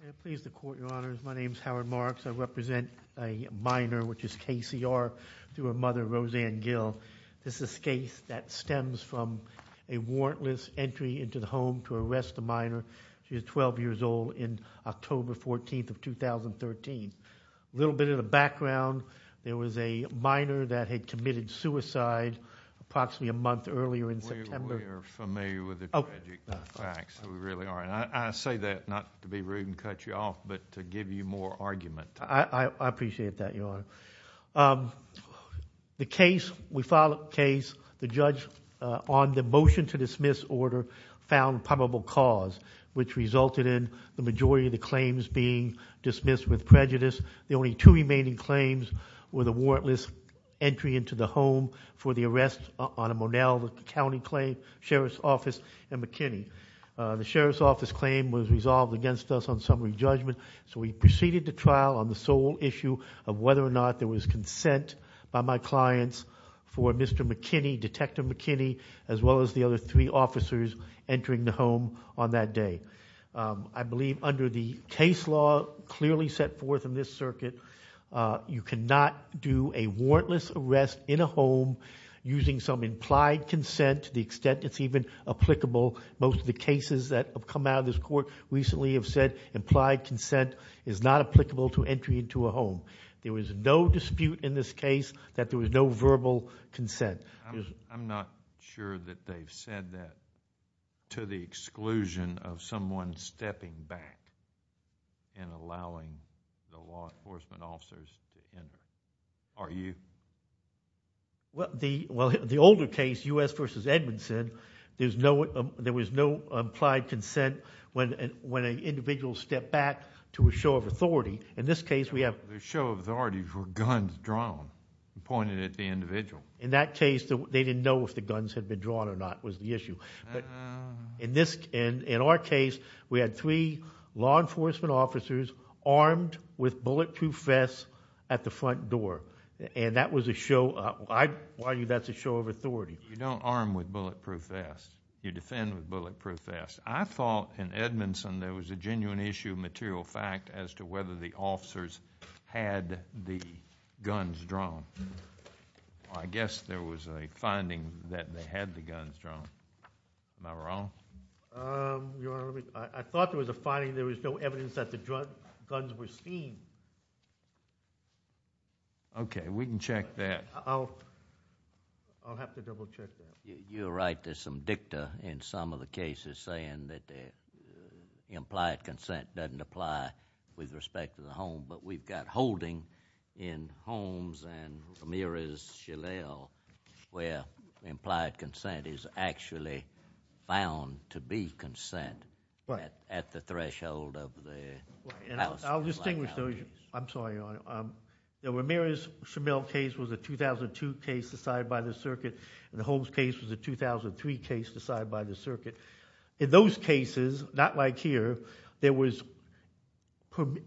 Can I please the court, your honors? My name is Howard Marks. I represent a minor, which is KCR, through her mother, Roseann Gill. This is a case that stems from a warrantless entry into the home to arrest a minor. She was 12 years old on October 14, 2013. A little bit of a background. There was a minor that had committed suicide approximately a month earlier in September. We are familiar with the tragic facts. We really are. I say that not to be rude and cut you off, but to give you more argument. I appreciate that, your honor. The case, we filed a case. The judge on the motion to dismiss order found probable cause, which resulted in the majority of the claims being dismissed with prejudice. The only two remaining claims were the warrantless entry into the home for the arrest on a Monalva County claim, Sheriff's Office, and McKinney. The Sheriff's Office claim was resolved against us on summary judgment, so we proceeded to trial on the sole issue of whether or not there was consent by my clients for Mr. McKinney, Detective McKinney, as well as the other three officers entering the home on that day. I believe under the case law clearly set forth in this circuit, you cannot do a warrantless arrest in a home using some implied consent to the extent it's even applicable. Most of the cases that have come out of this court recently have said implied consent is not applicable to entry into a home. There was no dispute in this case that there was no verbal consent. I'm not sure that they've said that to the exclusion of someone stepping back and allowing the law enforcement officers to enter. Are you? Well, the older case, U.S. v. Edmondson, there was no implied consent when an individual stepped back to a show of authority. In this case, we have... In this case, they didn't know if the guns had been drawn or not was the issue. In our case, we had three law enforcement officers armed with bulletproof vests at the front door, and that was a show... I argue that's a show of authority. You don't arm with bulletproof vests. You defend with bulletproof vests. I thought in Edmondson there was a genuine issue of material fact as to whether the officers had the guns drawn. I guess there was a finding that they had the guns drawn. Am I wrong? Your Honor, I thought there was a finding there was no evidence that the guns were seen. Okay, we can check that. I'll have to double check that. You're right. There's some dicta in some of the cases saying that the implied consent doesn't apply with respect to the home, but we've got holding in Holmes and Ramirez-Shillel where implied consent is actually bound to be consent at the threshold of the... I'll distinguish those. I'm sorry, Your Honor. The Ramirez-Shillel case was a 2002 case decided by the circuit, and the Holmes case was a 2003 case decided by the circuit. In those cases, they were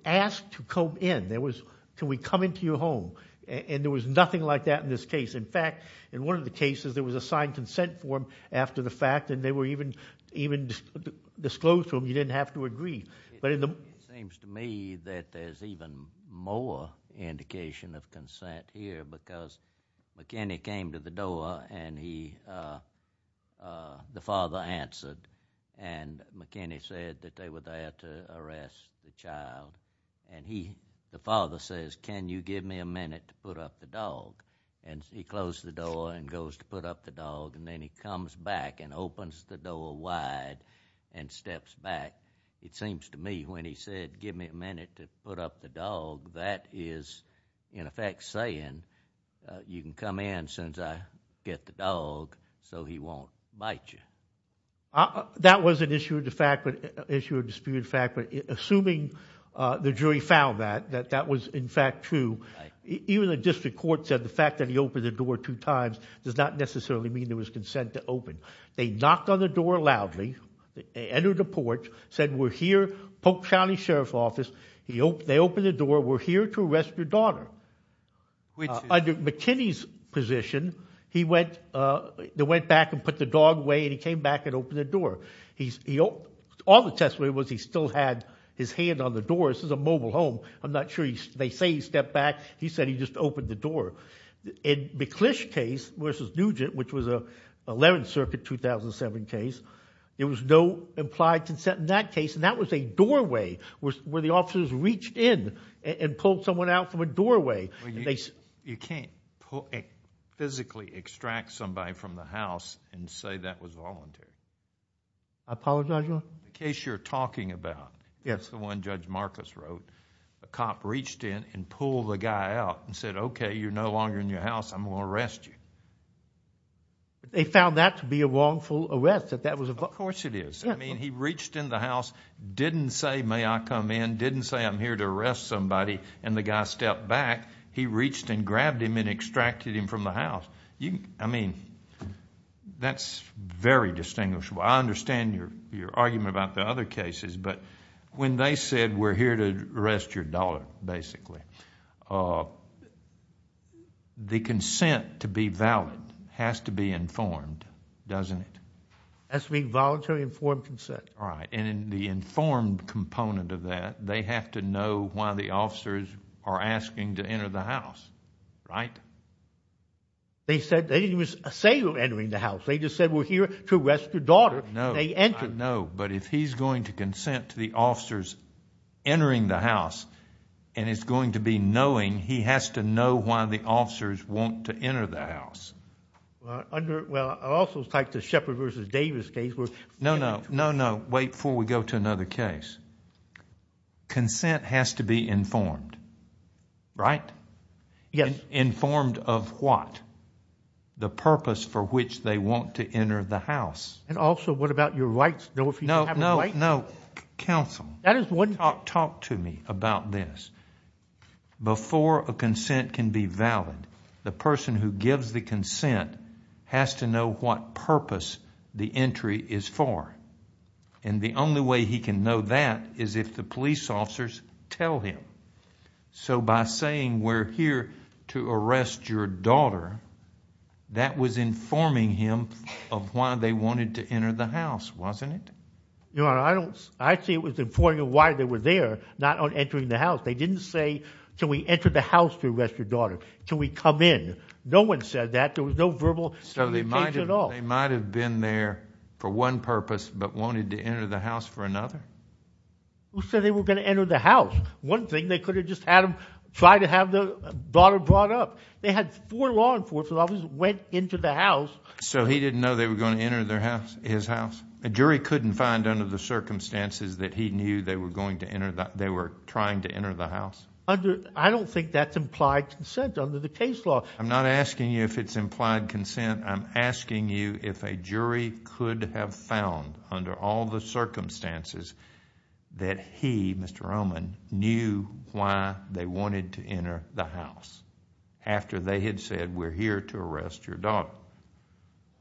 asked to come in. There was, can we come into your home? There was nothing like that in this case. In fact, in one of the cases, there was a signed consent form after the fact, and they were even disclosed to them. You didn't have to agree. It seems to me that there's even more indication of consent here because McKinney came to the child, and the father says, can you give me a minute to put up the dog? He closed the door and goes to put up the dog, and then he comes back and opens the door wide and steps back. It seems to me when he said, give me a minute to put up the dog, that is in effect saying, you can come in as soon as I get the dog so he won't bite you. That was an issue of dispute of fact, but assuming the jury found that, that that was in fact true, even the district court said the fact that he opened the door two times does not necessarily mean there was consent to open. They knocked on the door loudly, entered the porch, said we're here, Polk County Sheriff's Office, they opened the door, we're here to arrest your daughter. Under McKinney's position, they went back and put the dog away, and he came back and opened the door. All the testimony was he still had his hand on the door. This is a mobile home. I'm not sure they say he stepped back. He said he just opened the door. In McClish case versus Nugent, which was a 11th Circuit 2007 case, there was no implied consent in that case, and that was a doorway where the officers reached in and pulled someone out from a doorway. You can't physically extract somebody from the house and say that was voluntary. I apologize, Your Honor? In the case you're talking about, the one Judge Marcus wrote, a cop reached in and pulled the guy out and said, okay, you're no longer in your house, I'm going to arrest you. They found that to be a wrongful arrest, that that was a... Of course it is. He reached in the house, didn't say may I come in, didn't say I'm here to arrest somebody, and the guy stepped back. He reached in, grabbed him, and extracted him from the house. That's very distinguishable. I understand your argument about the other cases, but when they said we're here to arrest your daughter, basically, the consent to be valid has to be informed, doesn't it? That's to be voluntarily informed consent. Right, and the informed component of that, they have to know why the officers are asking to enter the house, right? They didn't even say they were entering the house. They just said we're here to arrest your daughter. No, I know, but if he's going to consent to the officers entering the house, and it's going to be knowing, he has to know why the officers want to enter the house. Well, I also typed the Shepard versus Davis case... No, no, no, no. Wait before we go to another case. Consent has to be informed, right? Yes. Informed of what? The purpose for which they want to enter the house. And also, what about your rights? No, no, no. Counsel, talk to me about this. Before a consent can be valid, the person who gives the consent has to know what purpose the entry is for. And the only way he can know that is if the police officers tell him. So by saying, we're here to arrest your daughter, that was informing him of why they wanted to enter the house, wasn't it? Your Honor, I don't... I'd say it was informing him why they were there, not on entering the house. They didn't say, shall we enter the house to arrest your daughter? Shall we come in? No one said that. There was no verbal communication at all. So they might have been there for one purpose, but wanted to enter the house for another? Who said they were going to enter the house? One thing, they could have just had them try to have the daughter brought up. They had four law enforcement officers that went into the house. So he didn't know they were going to enter his house? A jury couldn't find under the circumstances that he knew they were trying to enter the house? I don't think that's implied consent under the case law. I'm not asking you if it's implied consent. I'm asking you if a jury could have found under all the circumstances that he, Mr. Oman, knew why they wanted to enter the house after they had said, we're here to arrest your daughter.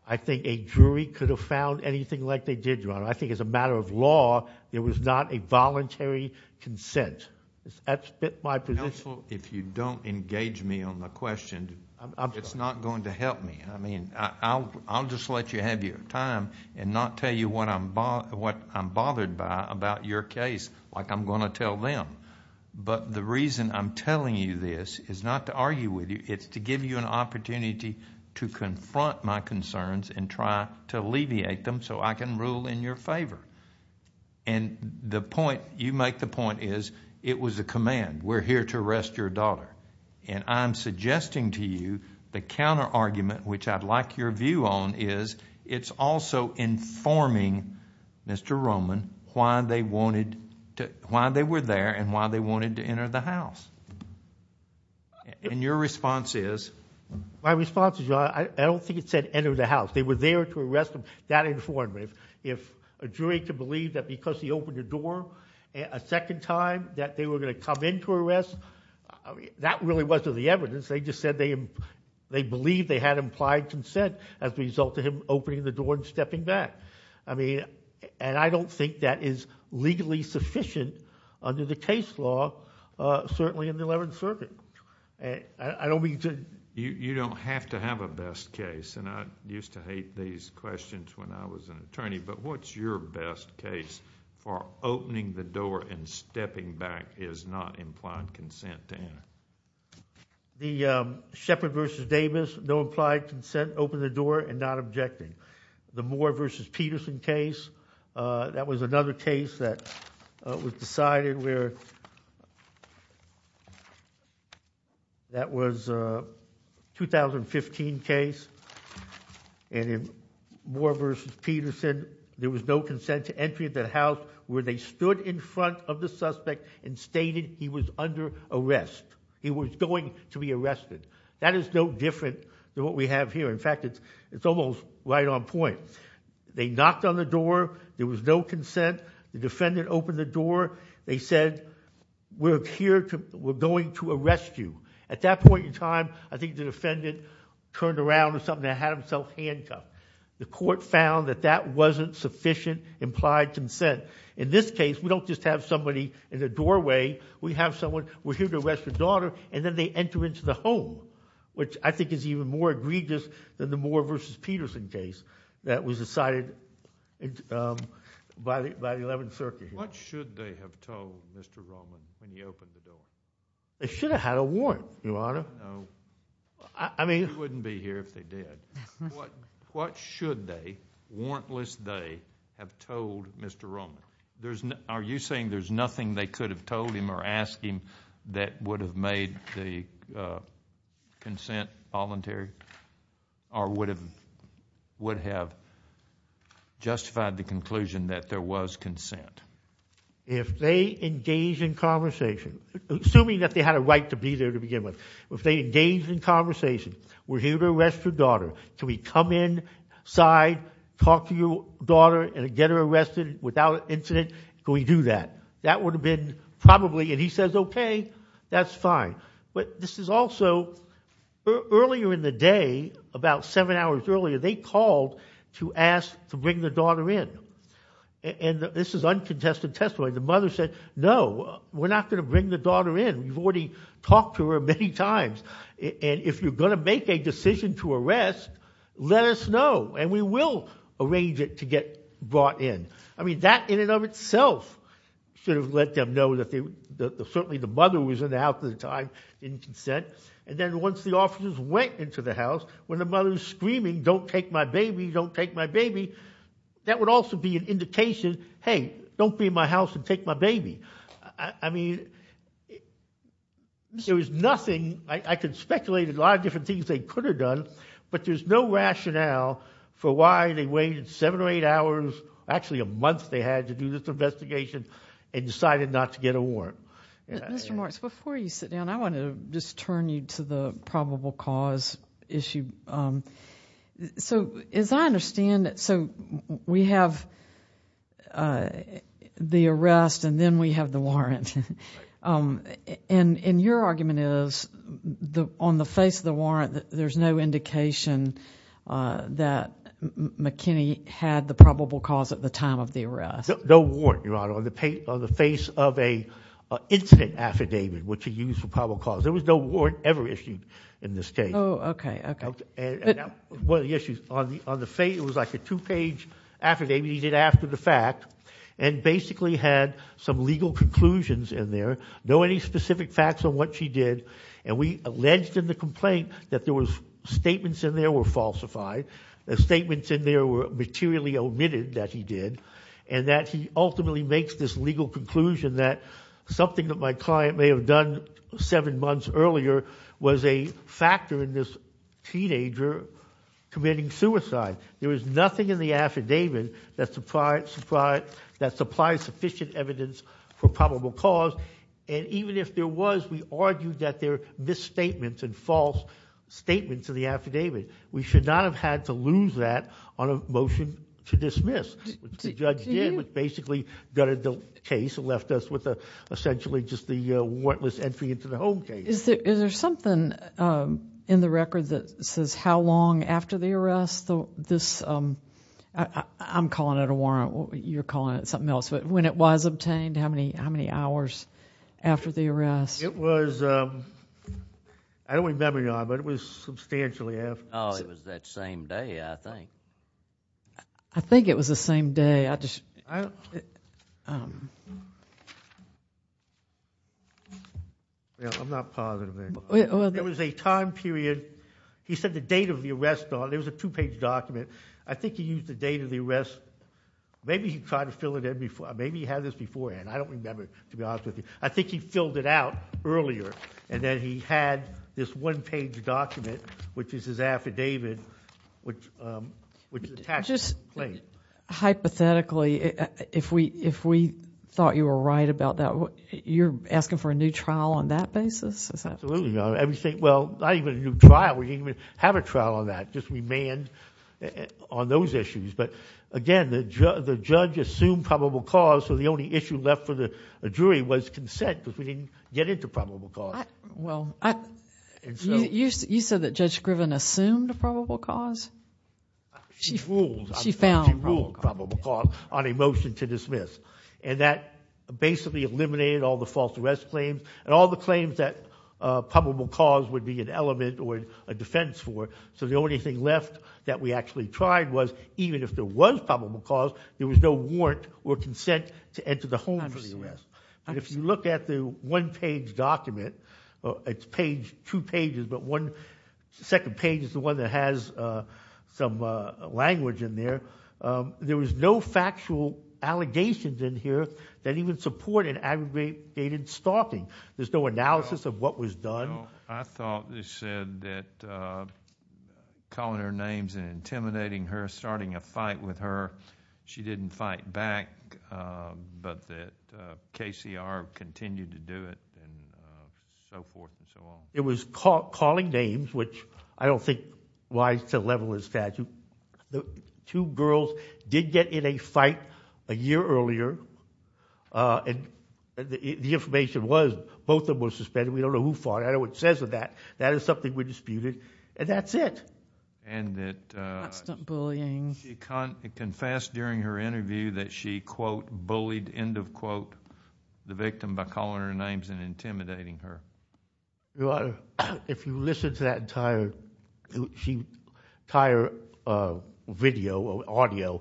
I think a jury could have found anything like they did, Your Honor. I think as a matter of law, there was not a voluntary consent. Counsel, if you don't engage me on the question, it's not going to help me. I'll just let you have your time and not tell you what I'm bothered by about your case like I'm going to tell them. But the reason I'm telling you this is not to argue with you. It's to give you an opportunity to confront my concerns and try to alleviate them so I can rule in your favor. The point, you make the point, is it was a command. We're here to arrest your daughter. I'm suggesting to you the counter-argument, which I'd like your view on, is it's also informing Mr. Roman why they were there and why they wanted to enter the house. And your response is? My response is, Your Honor, I don't think it said enter the house. They were there to arrest him. That informed me. If a jury could believe that because he opened the door a second time that they were going to come in to arrest, that really wasn't the evidence. They just said they believed they had implied consent as a result of him opening the door and stepping back. And I don't think that is legally sufficient under the case law, certainly in the Eleventh Circuit. You don't have to have a best case. And I used to hate these questions when I was an attorney. But what's your best case for opening the door and stepping back is not implied consent to enter? The Sheppard v. Davis, no implied consent, open the door and not objecting. The Moore v. Peterson case, that was another case that was decided where that was a 2015 case. And in Moore v. Peterson, there was no consent to enter the house where they stood in front of the suspect and stated he was under arrest. He was going to be arrested. That is no different than what we have here. In fact, it's almost right on point. They knocked on the door. There was no consent. The defendant opened the door. They said, we're going to arrest you. At that point in time, I think the defendant turned around or something and had himself handcuffed. The court found that that wasn't sufficient implied consent. In this case, we don't just have somebody in the doorway. We have someone, we're here to arrest your daughter, and then they enter into the home, which I think is even more egregious than the Moore v. Peterson case that was decided by the 11th Circuit. What should they have told Mr. Roman when he opened the door? They should have had a warrant, Your Honor. No. I mean... He wouldn't be here if they did. What should they, warrantless they, have told Mr. Roman? Are you saying there's nothing they could have told him or asked him that would have made the consent voluntary or would have justified the conclusion that there was consent? If they engaged in conversation, assuming that they had a right to be there to begin with, if they engaged in conversation, we're here to arrest your daughter, can we come inside, talk to your daughter, and get her arrested without incident, can we do that? That would have been probably, and he says, okay, that's fine. But this is also, earlier in the day, about seven hours earlier, they called to ask to bring their daughter in. And this is uncontested testimony. The mother said, no, we're not going to bring the daughter in. We've already talked to her many times, and if you're going to make a decision to arrest, let us know, and we will arrange it to get brought in. I mean, that in and of itself should have let them know that certainly the mother was in the house at the time in consent. And then once the officers went into the house, when the mother was screaming, don't take my baby, don't take my baby, that would also be an indication, hey, don't be in my house and take my baby. I mean, there was nothing. I could speculate a lot of different things they could have done, but there's no rationale for why they waited seven or eight hours, actually a month they had to do this investigation, and decided not to get a warrant. Mr. Marks, before you sit down, I want to just turn you to the probable cause issue. So as I understand it, so we have the arrest and then we have the warrant. And your argument is, on the face of the warrant, there's no indication that McKinney had the probable cause at the time of the arrest. No warrant, Your Honor, on the face of an incident affidavit, which he used for probable cause. There was no warrant ever issued in this case. Oh, okay, okay. One of the issues, it was like a two-page affidavit he did after the fact and basically had some legal conclusions in there, no any specific facts on what she did, and we alleged in the complaint that there was statements in there were falsified, statements in there were materially omitted that he did, and that he ultimately makes this legal conclusion that something that my client may have done seven months earlier was a factor in this teenager committing suicide. There was nothing in the affidavit that supplied sufficient evidence for probable cause, and even if there was, we argued that there are misstatements and false statements in the affidavit. We should not have had to lose that on a motion to dismiss. What the judge did was basically gutted the case and left us with essentially just the warrantless entry into the home case. Is there something in the record that says how long after the arrest this, I'm calling it a warrant, you're calling it something else, but when it was obtained, how many hours after the arrest? It was, I don't remember now, but it was substantially after. Oh, it was that same day, I think. I think it was the same day. I'm not positive. There was a time period, he said the date of the arrest, there was a two-page document, I think he used the date of the arrest, maybe he had this beforehand, I don't remember, to be honest with you. I think he filled it out earlier, and then he had this one-page document, which is his affidavit, which attaches to the claim. Just hypothetically, if we thought you were right about that, you're asking for a new trial on that basis? Absolutely not. Well, not even a new trial, we didn't even have a trial on that, just remand on those issues. Again, the judge assumed probable cause, so the only issue left for the jury was consent, because we didn't get into probable cause. You said that Judge Scriven assumed probable cause? She ruled probable cause on a motion to dismiss, and that basically eliminated all the false arrest claims, and all the claims that probable cause would be an element or a defense for, so the only thing left that we actually tried was, even if there was probable cause, there was no warrant or consent to enter the home for the arrest. If you look at the one-page document, it's two pages, but the second page is the one that has some language in there. There was no factual allegations in here that even supported aggregated stalking. There's no analysis of what was done. I thought they said that calling her names and intimidating her, starting a fight with her, she didn't fight back, but that KCR continued to do it, and so forth and so on. It was calling names, which I don't think is wise to level a statute. Two girls did get in a fight a year earlier, and the information was both of them were suspended. We don't know who fought it. I don't know what it says on that. That is something we disputed, and that's it. Constant bullying. She confessed during her interview that she, quote, bullied, end of quote, the victim by calling her names and intimidating her. Your Honor, if you listen to that entire video or audio,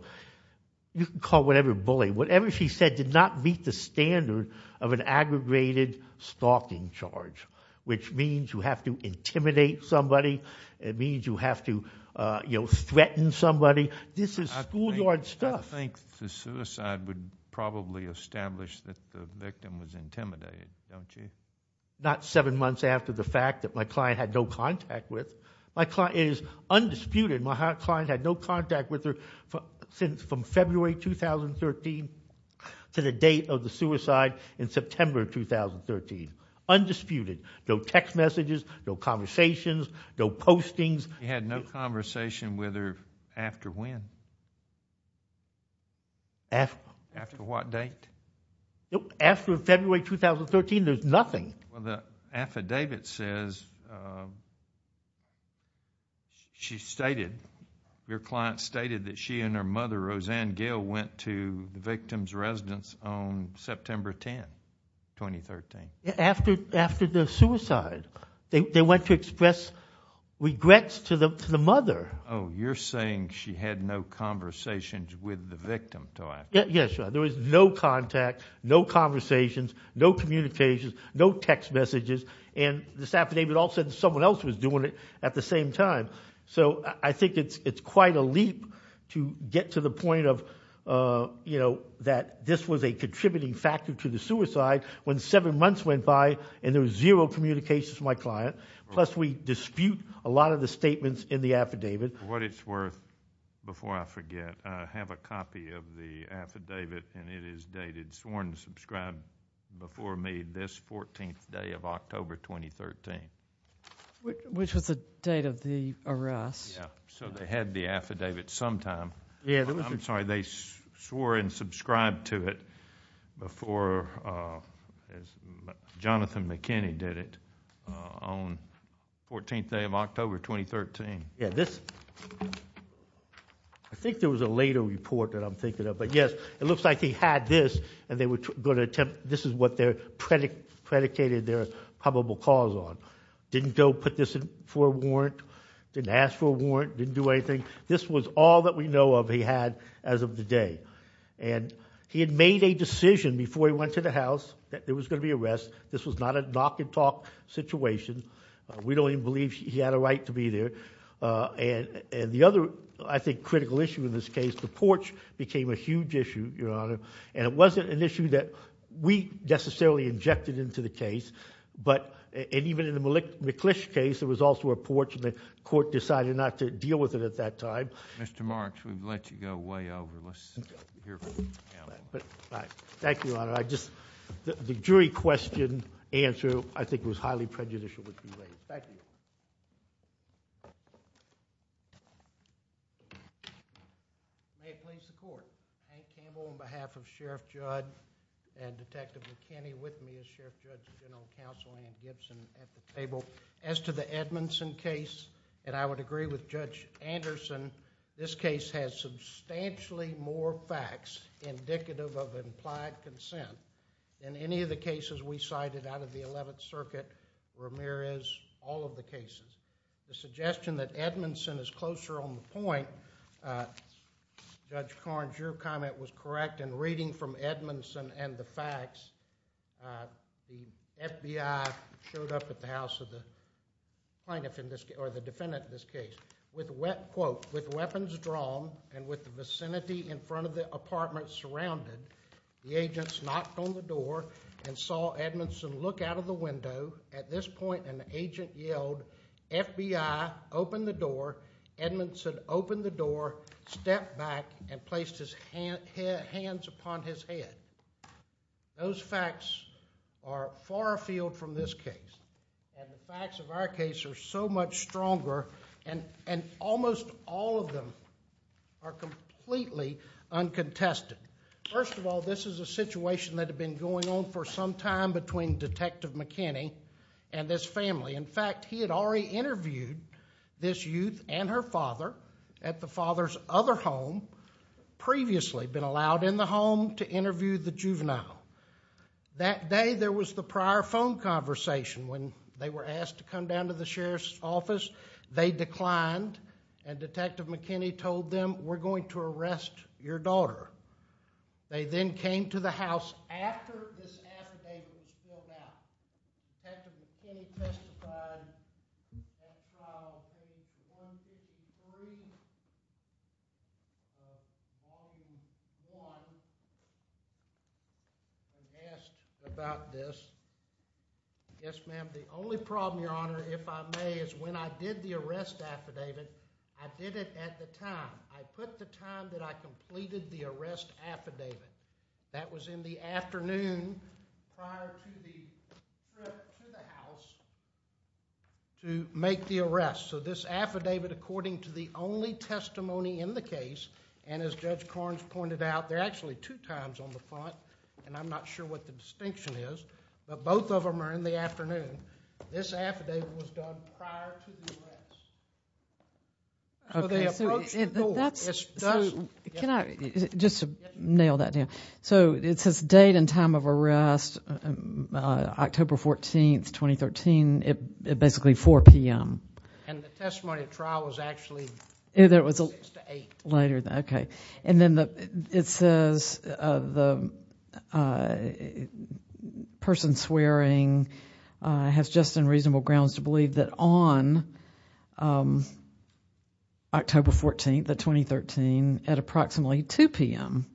you can call whatever bullying. Whatever she said did not meet the standard of an aggregated stalking charge, which means you have to intimidate somebody. It means you have to threaten somebody. This is schoolyard stuff. I think the suicide would probably establish that the victim was intimidated, don't you? Not seven months after the fact that my client had no contact with. It is undisputed my client had no contact with her from February 2013 to the date of the suicide in September 2013. Undisputed. No text messages, no conversations, no postings. You had no conversation with her after when? After what date? After February 2013, there's nothing. Well, the affidavit says she stated, your client stated that she and her mother, Roseanne Gill, went to the victim's residence on September 10, 2013. After the suicide. They went to express regrets to the mother. Oh, you're saying she had no conversations with the victim. Yes, Your Honor. There was no contact, no conversations, no communications, no text messages, and this affidavit all said someone else was doing it at the same time. So I think it's quite a leap to get to the point of, you know, that this was a contributing factor to the suicide when seven months went by and there was zero communications from my client, plus we dispute a lot of the statements in the affidavit. For what it's worth, before I forget, I have a copy of the affidavit and it is dated sworn and subscribed before me this 14th day of October 2013. Which was the date of the arrest. So they had the affidavit sometime. I'm sorry, they swore and subscribed to it before, as Jonathan McKinney did it, on the 14th day of October 2013. Yeah, this, I think there was a later report that I'm thinking of, but yes, it looks like he had this and they were going to attempt, this is what they predicated their probable cause on. Didn't go put this for a warrant, didn't ask for a warrant, didn't do anything. This was all that we know of he had as of the day. And he had made a decision before he went to the house that there was going to be an arrest. This was not a knock and talk situation. We don't even believe he had a right to be there. And the other, I think, critical issue in this case, the porch became a huge issue, Your Honor. And it wasn't an issue that we necessarily injected into the case. But even in the McClish case, there was also a porch and the court decided not to deal with it at that time. Mr. Marks, we've let you go way over. Let's hear from you now. Thank you, Your Honor. The jury question answer, I think, was highly prejudicial. Thank you. May it please the court. Hank Campbell on behalf of Sheriff Judd and Detective McKinney with me as Sheriff Judd has been on counseling and Gibson at the table. As to the Edmondson case, and I would agree with Judge Anderson, this case has substantially more facts indicative of implied consent than any of the cases we cited out of the Eleventh Circuit, Ramirez, all of the cases. The suggestion that Edmondson is closer on the point, Judge Carnes, your comment was correct. In reading from Edmondson and the facts, the FBI showed up at the house of the plaintiff in this case, or the defendant in this case. With weapons drawn and with the vicinity in front of the apartment surrounded, the agents knocked on the door and saw Edmondson look out of the window. At this point, an agent yelled, FBI, open the door. Edmondson opened the door, stepped back, and placed his hands upon his head. Those facts are far afield from this case, and the facts of our case are so much stronger, and almost all of them are completely uncontested. First of all, this is a situation that had been going on for some time between Detective McKinney and this family. In fact, he had already interviewed this youth and her father at the father's other home, previously been allowed in the home to interview the juvenile. That day, there was the prior phone conversation. When they were asked to come down to the sheriff's office, they declined, and Detective McKinney told them, we're going to arrest your daughter. They then came to the house after this affidavit was filled out. Detective McKinney testified and asked about this. Yes, ma'am. The only problem, Your Honor, if I may, is when I did the arrest affidavit, I did it at the time. I put the time that I completed the arrest affidavit. That was in the afternoon prior to the trip to the house to make the arrest. This affidavit, according to the only testimony in the case, and as Judge Korns pointed out, they're actually two times on the front, and I'm not sure what the distinction is, but both of them are in the afternoon. This affidavit was done prior to the arrest. They approached the door. Can I just nail that down? It says date and time of arrest, October 14, 2013, at basically 4 p.m. The testimony at trial was actually 6 to 8. Later. Okay. Then it says the person swearing has just and reasonable grounds to believe that on October 14, 2013, at approximately 2 p.m.,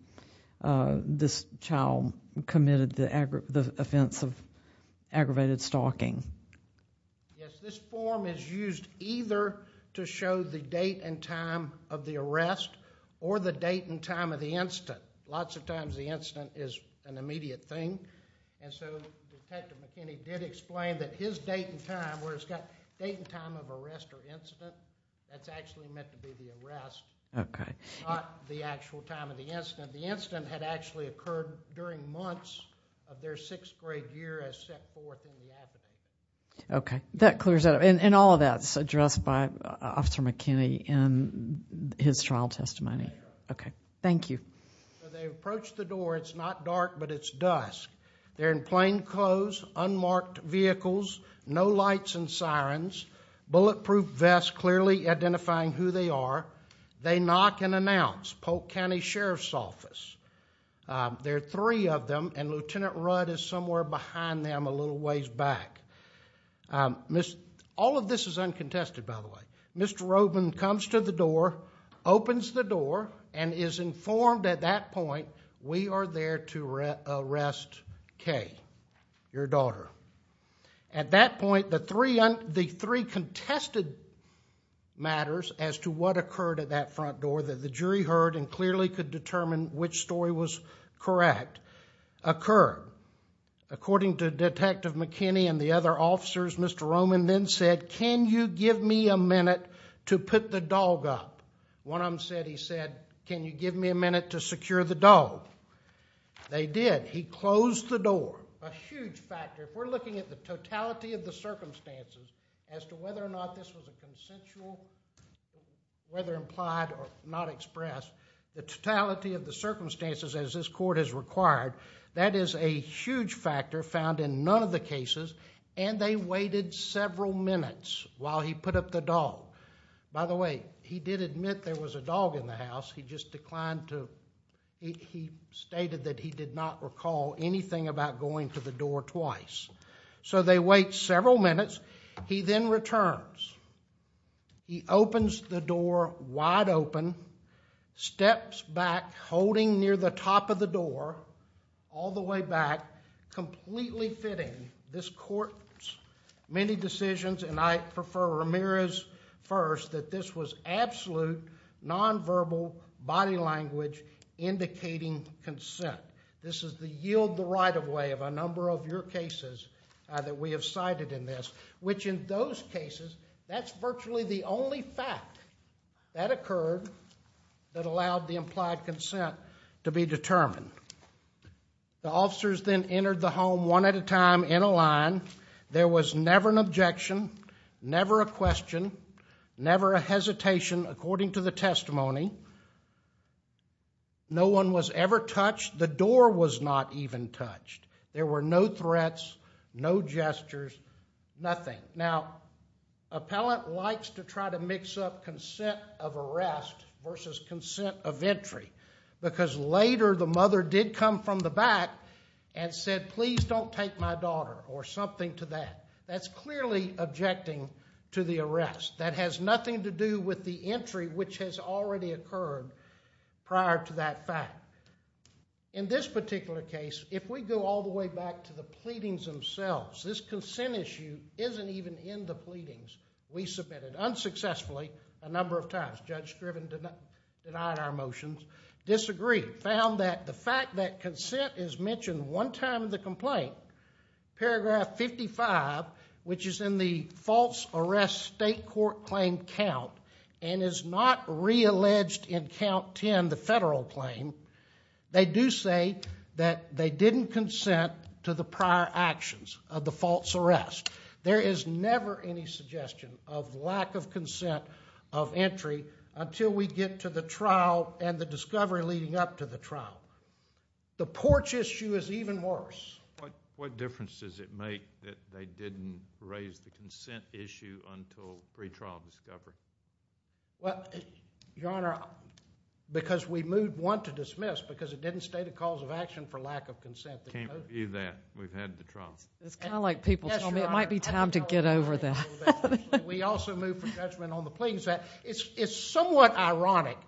this child committed the offense of aggravated stalking. Yes, this form is used either to show the date and time of the arrest or the date and time of the incident. Lots of times the incident is an immediate thing, and so Detective McKinney did explain that his date and time, where it's got date and time of arrest or incident, that's actually meant to be the arrest, not the actual time of the incident. The incident had actually occurred during months of their 6th grade year as set forth in the affidavit. Okay. That clears that up. And all of that's addressed by Officer McKinney in his trial testimony. Okay. Thank you. They approached the door. It's not dark, but it's dusk. They're in plain clothes, unmarked vehicles, no lights and sirens, bulletproof vests clearly identifying who they are. They knock and announce, Polk County Sheriff's Office. There are three of them, and Lieutenant Rudd is somewhere behind them a little ways back. All of this is uncontested, by the way. Mr. Robin comes to the door, opens the door, and is informed at that point, we are there to arrest Kay, your daughter. At that point, the three contested matters as to what occurred at that front door that the jury heard and clearly could determine which story was correct occurred. According to Detective McKinney and the other officers, Mr. Robin then said, can you give me a minute to put the dog up? One of them said, he said, can you give me a minute to secure the dog? They did. He closed the door. A huge factor. If we're looking at the totality of the circumstances as to whether or not this was a consensual, whether implied or not expressed, the totality of the circumstances as this court has required, that is a huge factor found in none of the cases, and they waited several minutes while he put up the dog. By the way, he did admit there was a dog in the house. He just declined to, he stated that he did not recall anything about going to the door twice. So they wait several minutes. He then returns. He opens the door wide open, steps back, holding near the top of the door, all the way back, completely fitting this court's many decisions, and I prefer Ramirez first, that this was absolute nonverbal body language indicating consent. This is the yield-the-right-of-way of a number of your cases that we have cited in this, which in those cases, that's virtually the only fact that occurred that allowed the implied consent to be determined. The officers then entered the home one at a time in a line. There was never an objection, never a question, never a hesitation, according to the testimony. No one was ever touched. The door was not even touched. There were no threats, no gestures, nothing. Now, appellant likes to try to mix up consent of arrest versus consent of entry, because later the mother did come from the back and said, please don't take my daughter, or something to that. That's clearly objecting to the arrest. That has nothing to do with the entry, which has already occurred prior to that fact. In this particular case, if we go all the way back to the pleadings themselves, this consent issue isn't even in the pleadings. We submitted, unsuccessfully, a number of times. Judge Scriven denied our motions, disagreed, found that the fact that consent is mentioned one time in the complaint, paragraph 55, which is in the false arrest state court claim count, and is not realleged in count 10, the federal claim, they do say that they didn't consent to the prior actions of the false arrest. There is never any suggestion of lack of consent of entry until we get to the trial and the discovery leading up to the trial. The porch issue is even worse. What difference does it make that they didn't raise the consent issue until pre-trial discovery? Your Honor, because we moved one to dismiss, because it didn't state a cause of action for lack of consent. Can't review that. We've had the trial. It's kind of like people tell me it might be time to get over that. We also moved for judgment on the pleadings. It's somewhat ironic,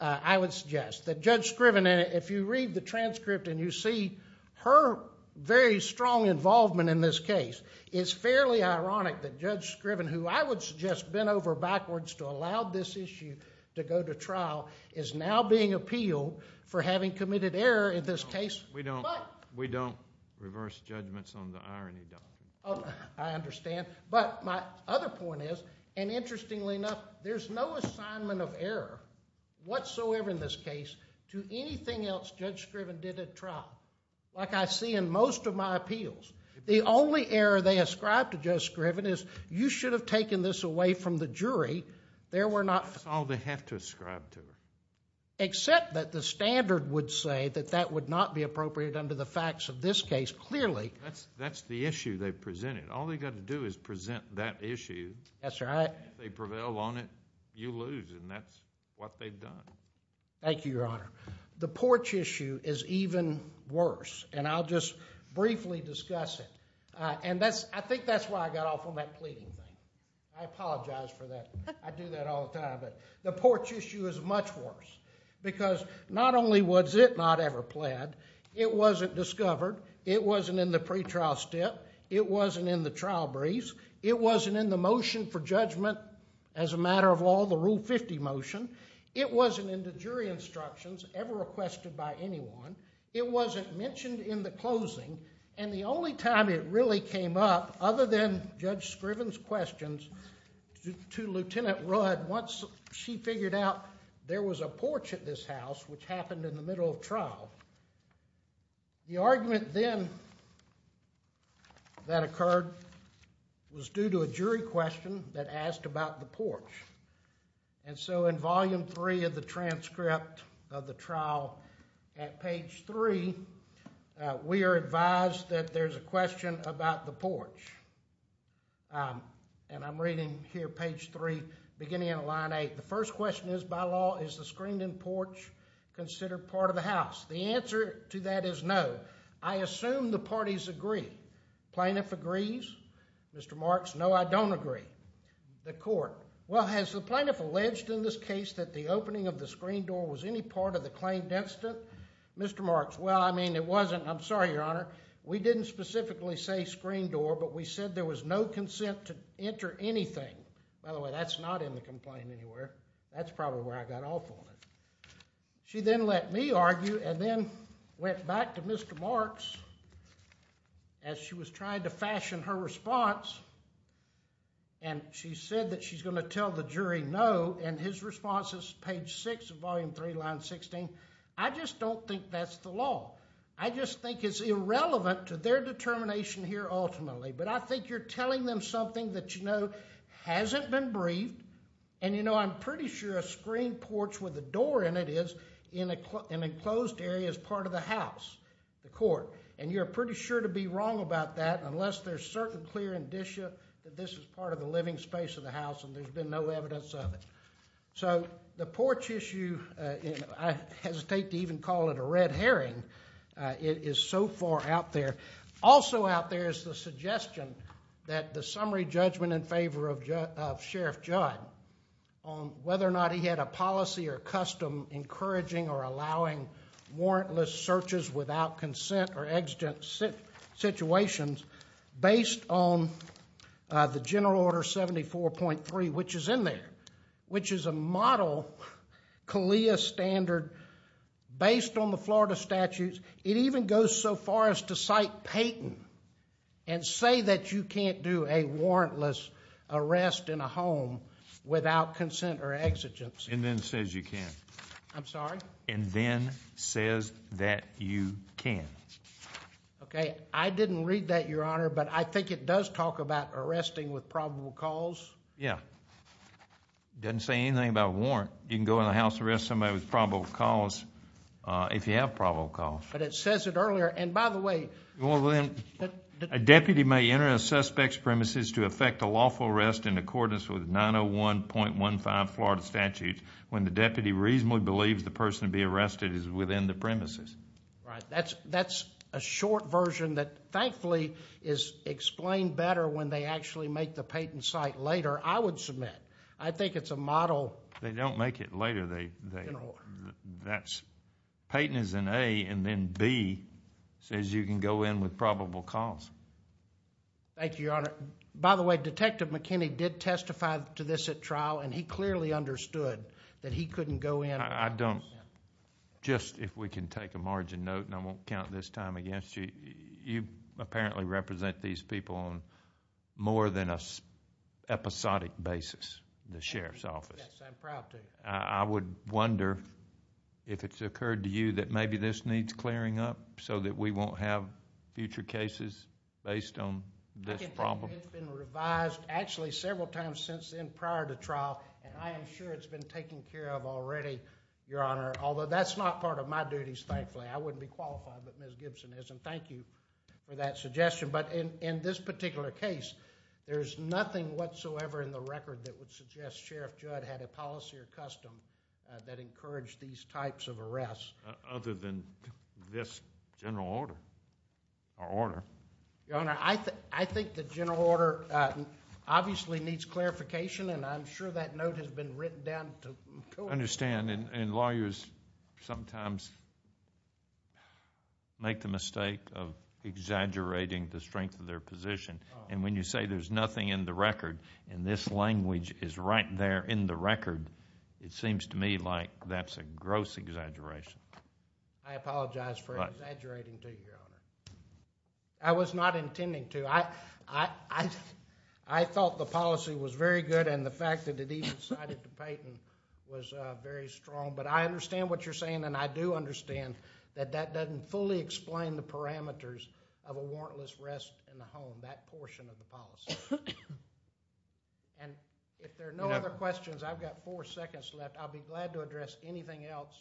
I would suggest, that Judge Scriven, if you read the transcript and you see her very strong involvement in this case, it's fairly ironic that Judge Scriven, who I would suggest bent over backwards to allow this issue to go to trial, is now being appealed for having committed error in this case. We don't reverse judgments on the irony, Doctor. I understand. But my other point is, and interestingly enough, there's no assignment of error whatsoever in this case to anything else Judge Scriven did at trial. Like I see in most of my appeals. The only error they ascribe to Judge Scriven is, you should have taken this away from the jury. There were not... That's all they have to ascribe to. Except that the standard would say that that would not be appropriate under the facts of this case, clearly. That's the issue they've presented. All they've got to do is present that issue. That's right. If they prevail on it, you lose, and that's what they've done. Thank you, Your Honor. The porch issue is even worse, and I'll just briefly discuss it. I think that's why I got off on that plea. I apologize for that. I do that all the time. The porch issue is much worse, because not only was it not ever pled, it wasn't discovered, it wasn't in the pretrial step, it wasn't in the trial briefs, it wasn't in the motion for judgment as a matter of law, the Rule 50 motion, it wasn't in the jury instructions ever requested by anyone, it wasn't mentioned in the closing, and the only time it really came up, other than Judge Scriven's questions, to Lieutenant Rudd once she figured out there was a porch at this house, which happened in the middle of trial. The argument then that occurred was due to a jury question that asked about the porch. In Volume 3 of the transcript of the trial, at page 3, we are advised that there's a question about the porch. I'm reading here, page 3, beginning at line 8. The first question is, by law, is the screened-in porch considered part of the house? The answer to that is no. I assume the parties agree. Plaintiff agrees. Mr. Marks, no, I don't agree. The court, well, has the plaintiff alleged in this case that the opening of the screened door was any part of the claimed incident? Mr. Marks, well, I mean, it wasn't. I'm sorry, Your Honor, we didn't specifically say screened door, but we said there was no consent to enter anything. By the way, that's not in the complaint anywhere. That's probably where I got off on it. She then let me argue, and then went back to Mr. Marks, as she was trying to fashion her response, and she said that she's going to tell the jury no, and his response is page 6 of volume 3, line 16. I just don't think that's the law. I just think it's irrelevant to their determination here ultimately, but I think you're telling them something that, you know, hasn't been briefed, and, you know, I'm pretty sure a screened porch with a door in it is in an enclosed area as part of the house, the court, and you're pretty sure to be wrong about that unless there's certain clear indicia that this is part of the living space of the house and there's been no evidence of it. So the porch issue, I hesitate to even call it a red herring. It is so far out there. Also out there is the suggestion that the summary judgment in favor of Sheriff Judd on whether or not he had a policy or custom encouraging or allowing warrantless searches without consent or exigent situations based on the General Order 74.3, which is in there, which is a model CALEA standard based on the Florida statutes. It even goes so far as to cite Peyton and say that you can't do a warrantless arrest in a home without consent or exigence. And then says you can. I'm sorry? And then says that you can. Okay. I didn't read that, Your Honor, but I think it does talk about arresting with probable cause. Yeah. It doesn't say anything about warrant. You can go in the house and arrest somebody with probable cause if you have probable cause. But it says it earlier. And, by the way, Well, then, a deputy may enter a suspect's premises to effect a lawful arrest in accordance with 901.15 Florida statute when the deputy reasonably believes the person to be arrested is within the premises. Right. That's a short version that thankfully is explained better when they actually make the Peyton cite later, I would submit. I think it's a model. They don't make it later. They don't. Peyton is an A, and then B says you can go in with probable cause. Thank you, Your Honor. By the way, Detective McKinney did testify to this at trial, and he clearly understood that he couldn't go in. I don't. Just if we can take a margin note, and I won't count this time against you, you apparently represent these people on more than an episodic basis in the sheriff's office. Yes, I'm proud to. I would wonder if it's occurred to you that maybe this needs clearing up so that we won't have future cases based on this problem. It's been revised actually several times since then prior to trial, and I am sure it's been taken care of already, Your Honor, although that's not part of my duties, thankfully. I wouldn't be qualified, but Ms. Gibson is, and thank you for that suggestion. But in this particular case, there's nothing whatsoever in the record that would suggest Sheriff Judd had a policy or custom that encouraged these types of arrests. Other than this general order, or order. Your Honor, I think the general order obviously needs clarification, and I'm sure that note has been written down. I understand, and lawyers sometimes make the mistake of exaggerating the strength of their position. And when you say there's nothing in the record, and this language is right there in the record, it seems to me like that's a gross exaggeration. I apologize for exaggerating to you, Your Honor. I was not intending to. I thought the policy was very good, and the fact that it even cited the patent was very strong. But I understand what you're saying, and I do understand that that doesn't fully explain the parameters of a warrantless arrest in the home, that portion of the policy. And if there are no other questions, I've got four seconds left. I'll be glad to address anything else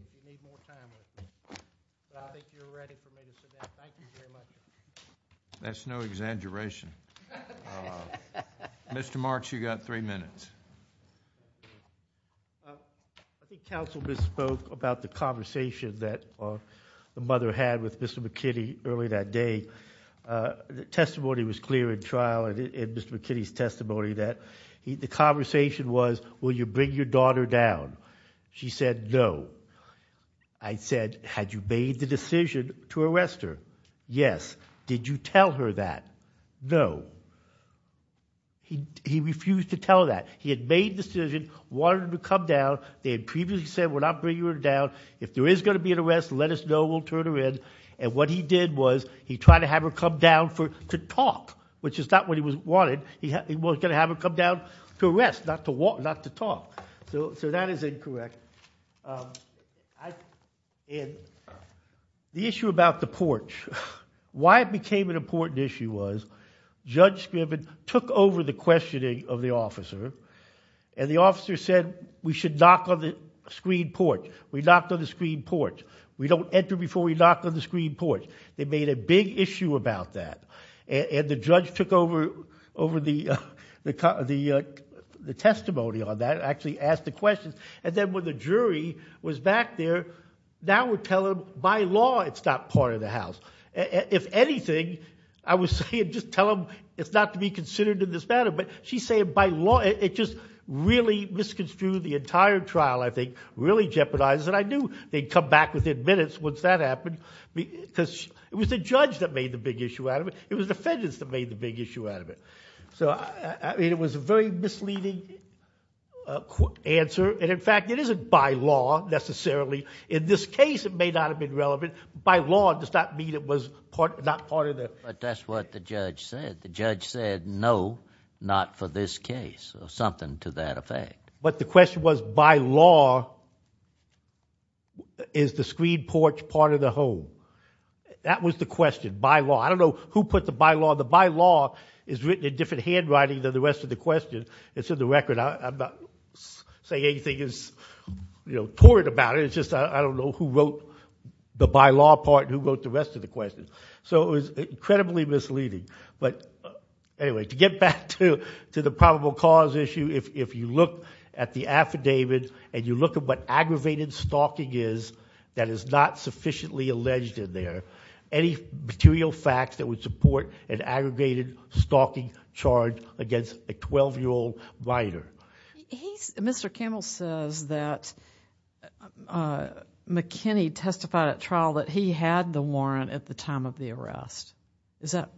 if you need more time with me. I think you're ready for me to sit down. Thank you very much. That's no exaggeration. Mr. Marks, you've got three minutes. I think counsel misspoke about the conversation that the mother had with Mr. McKinney early that day. The testimony was clear in trial, and Mr. McKinney's testimony that the conversation was, will you bring your daughter down? She said, no. I said, had you made the decision to arrest her? Yes. Did you tell her that? No. He refused to tell that. He had made the decision, wanted her to come down. They had previously said, we're not bringing her down. If there is going to be an arrest, let us know. We'll turn her in. And what he did was he tried to have her come down to talk, which is not what he wanted. He was going to have her come down to arrest, not to talk. So that is incorrect. The issue about the porch, why it became an important issue was, Judge Scriven took over the questioning of the officer, and the officer said, we should knock on the screen porch. We knocked on the screen porch. We don't enter before we knock on the screen porch. They made a big issue about that, and the judge took over the testimony on that, and actually asked the questions. And then when the jury was back there, now we're telling them, by law, it's not part of the house. If anything, I was saying, just tell them it's not to be considered in this matter. But she's saying, by law, it just really misconstrued the entire trial, I think, really jeopardized it. I knew they'd come back within minutes once that happened, because it was the judge that made the big issue out of it. It was the defendants that made the big issue out of it. It was a very misleading answer, and in fact, it isn't by law, necessarily. In this case, it may not have been relevant. By law does not mean it was not part of the... But that's what the judge said. The judge said, no, not for this case, or something to that effect. But the question was, by law, is the screen porch part of the home? That was the question, by law. I don't know who put the by law. The by law is written in different handwriting than the rest of the question. It's in the record. I'm not saying anything is torrid about it. It's just I don't know who wrote the by law part and who wrote the rest of the question. So it was incredibly misleading. But anyway, to get back to the probable cause issue, if you look at the affidavit, and you look at what aggravated stalking is that is not sufficiently alleged in there, any material facts that would support an aggregated stalking charge against a 12-year-old minor. Mr. Campbell says that McKinney testified at trial that he had the warrant at the time of the arrest. Is that...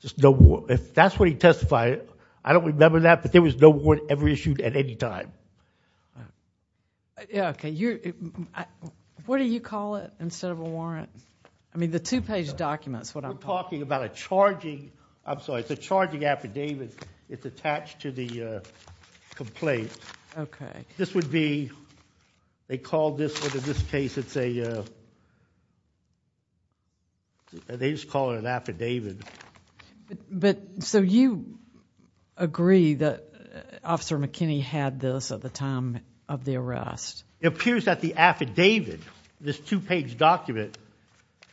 There's no warrant. If that's what he testified, I don't remember that, but there was no warrant ever issued at any time. What do you call it instead of a warrant? I mean, the two-page document is what I'm... We're talking about a charging... I'm sorry. It's a charging affidavit. It's attached to the complaint. Okay. This would be... they called this one. In this case, it's a... they just call it an affidavit. But so you agree that Officer McKinney had this at the time of the arrest? It appears that the affidavit, this two-page document,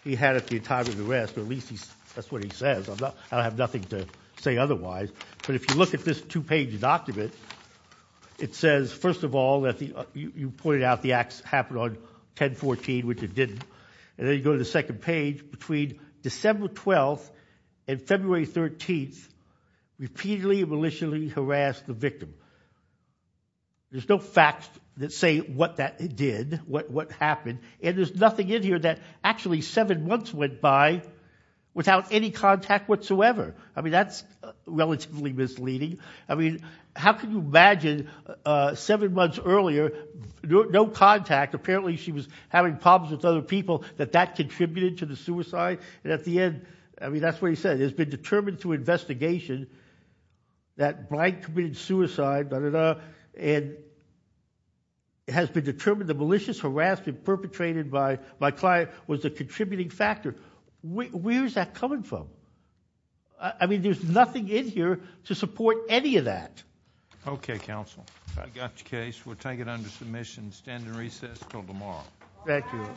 he had at the time of the arrest, or at least that's what he says. I don't have nothing to say otherwise. But if you look at this two-page document, it says, first of all, that you pointed out the acts happened on 10-14, which it didn't. And then you go to the second page. Between December 12th and February 13th, repeatedly and maliciously harassed the victim. There's no facts that say what that did, what happened. And there's nothing in here that actually seven months went by without any contact whatsoever. I mean, that's relatively misleading. I mean, how could you imagine seven months earlier, no contact, apparently she was having problems with other people, that that contributed to the suicide? And at the end, I mean, that's what he said. It has been determined through investigation that Blank committed suicide, da-da-da, and it has been determined the malicious harassment perpetrated by my client was a contributing factor. Where's that coming from? I mean, there's nothing in here to support any of that. Okay, counsel. We got your case. We'll take it under submission, stand in recess until tomorrow. Thank you. Thank you. Thank you for your help, Mike.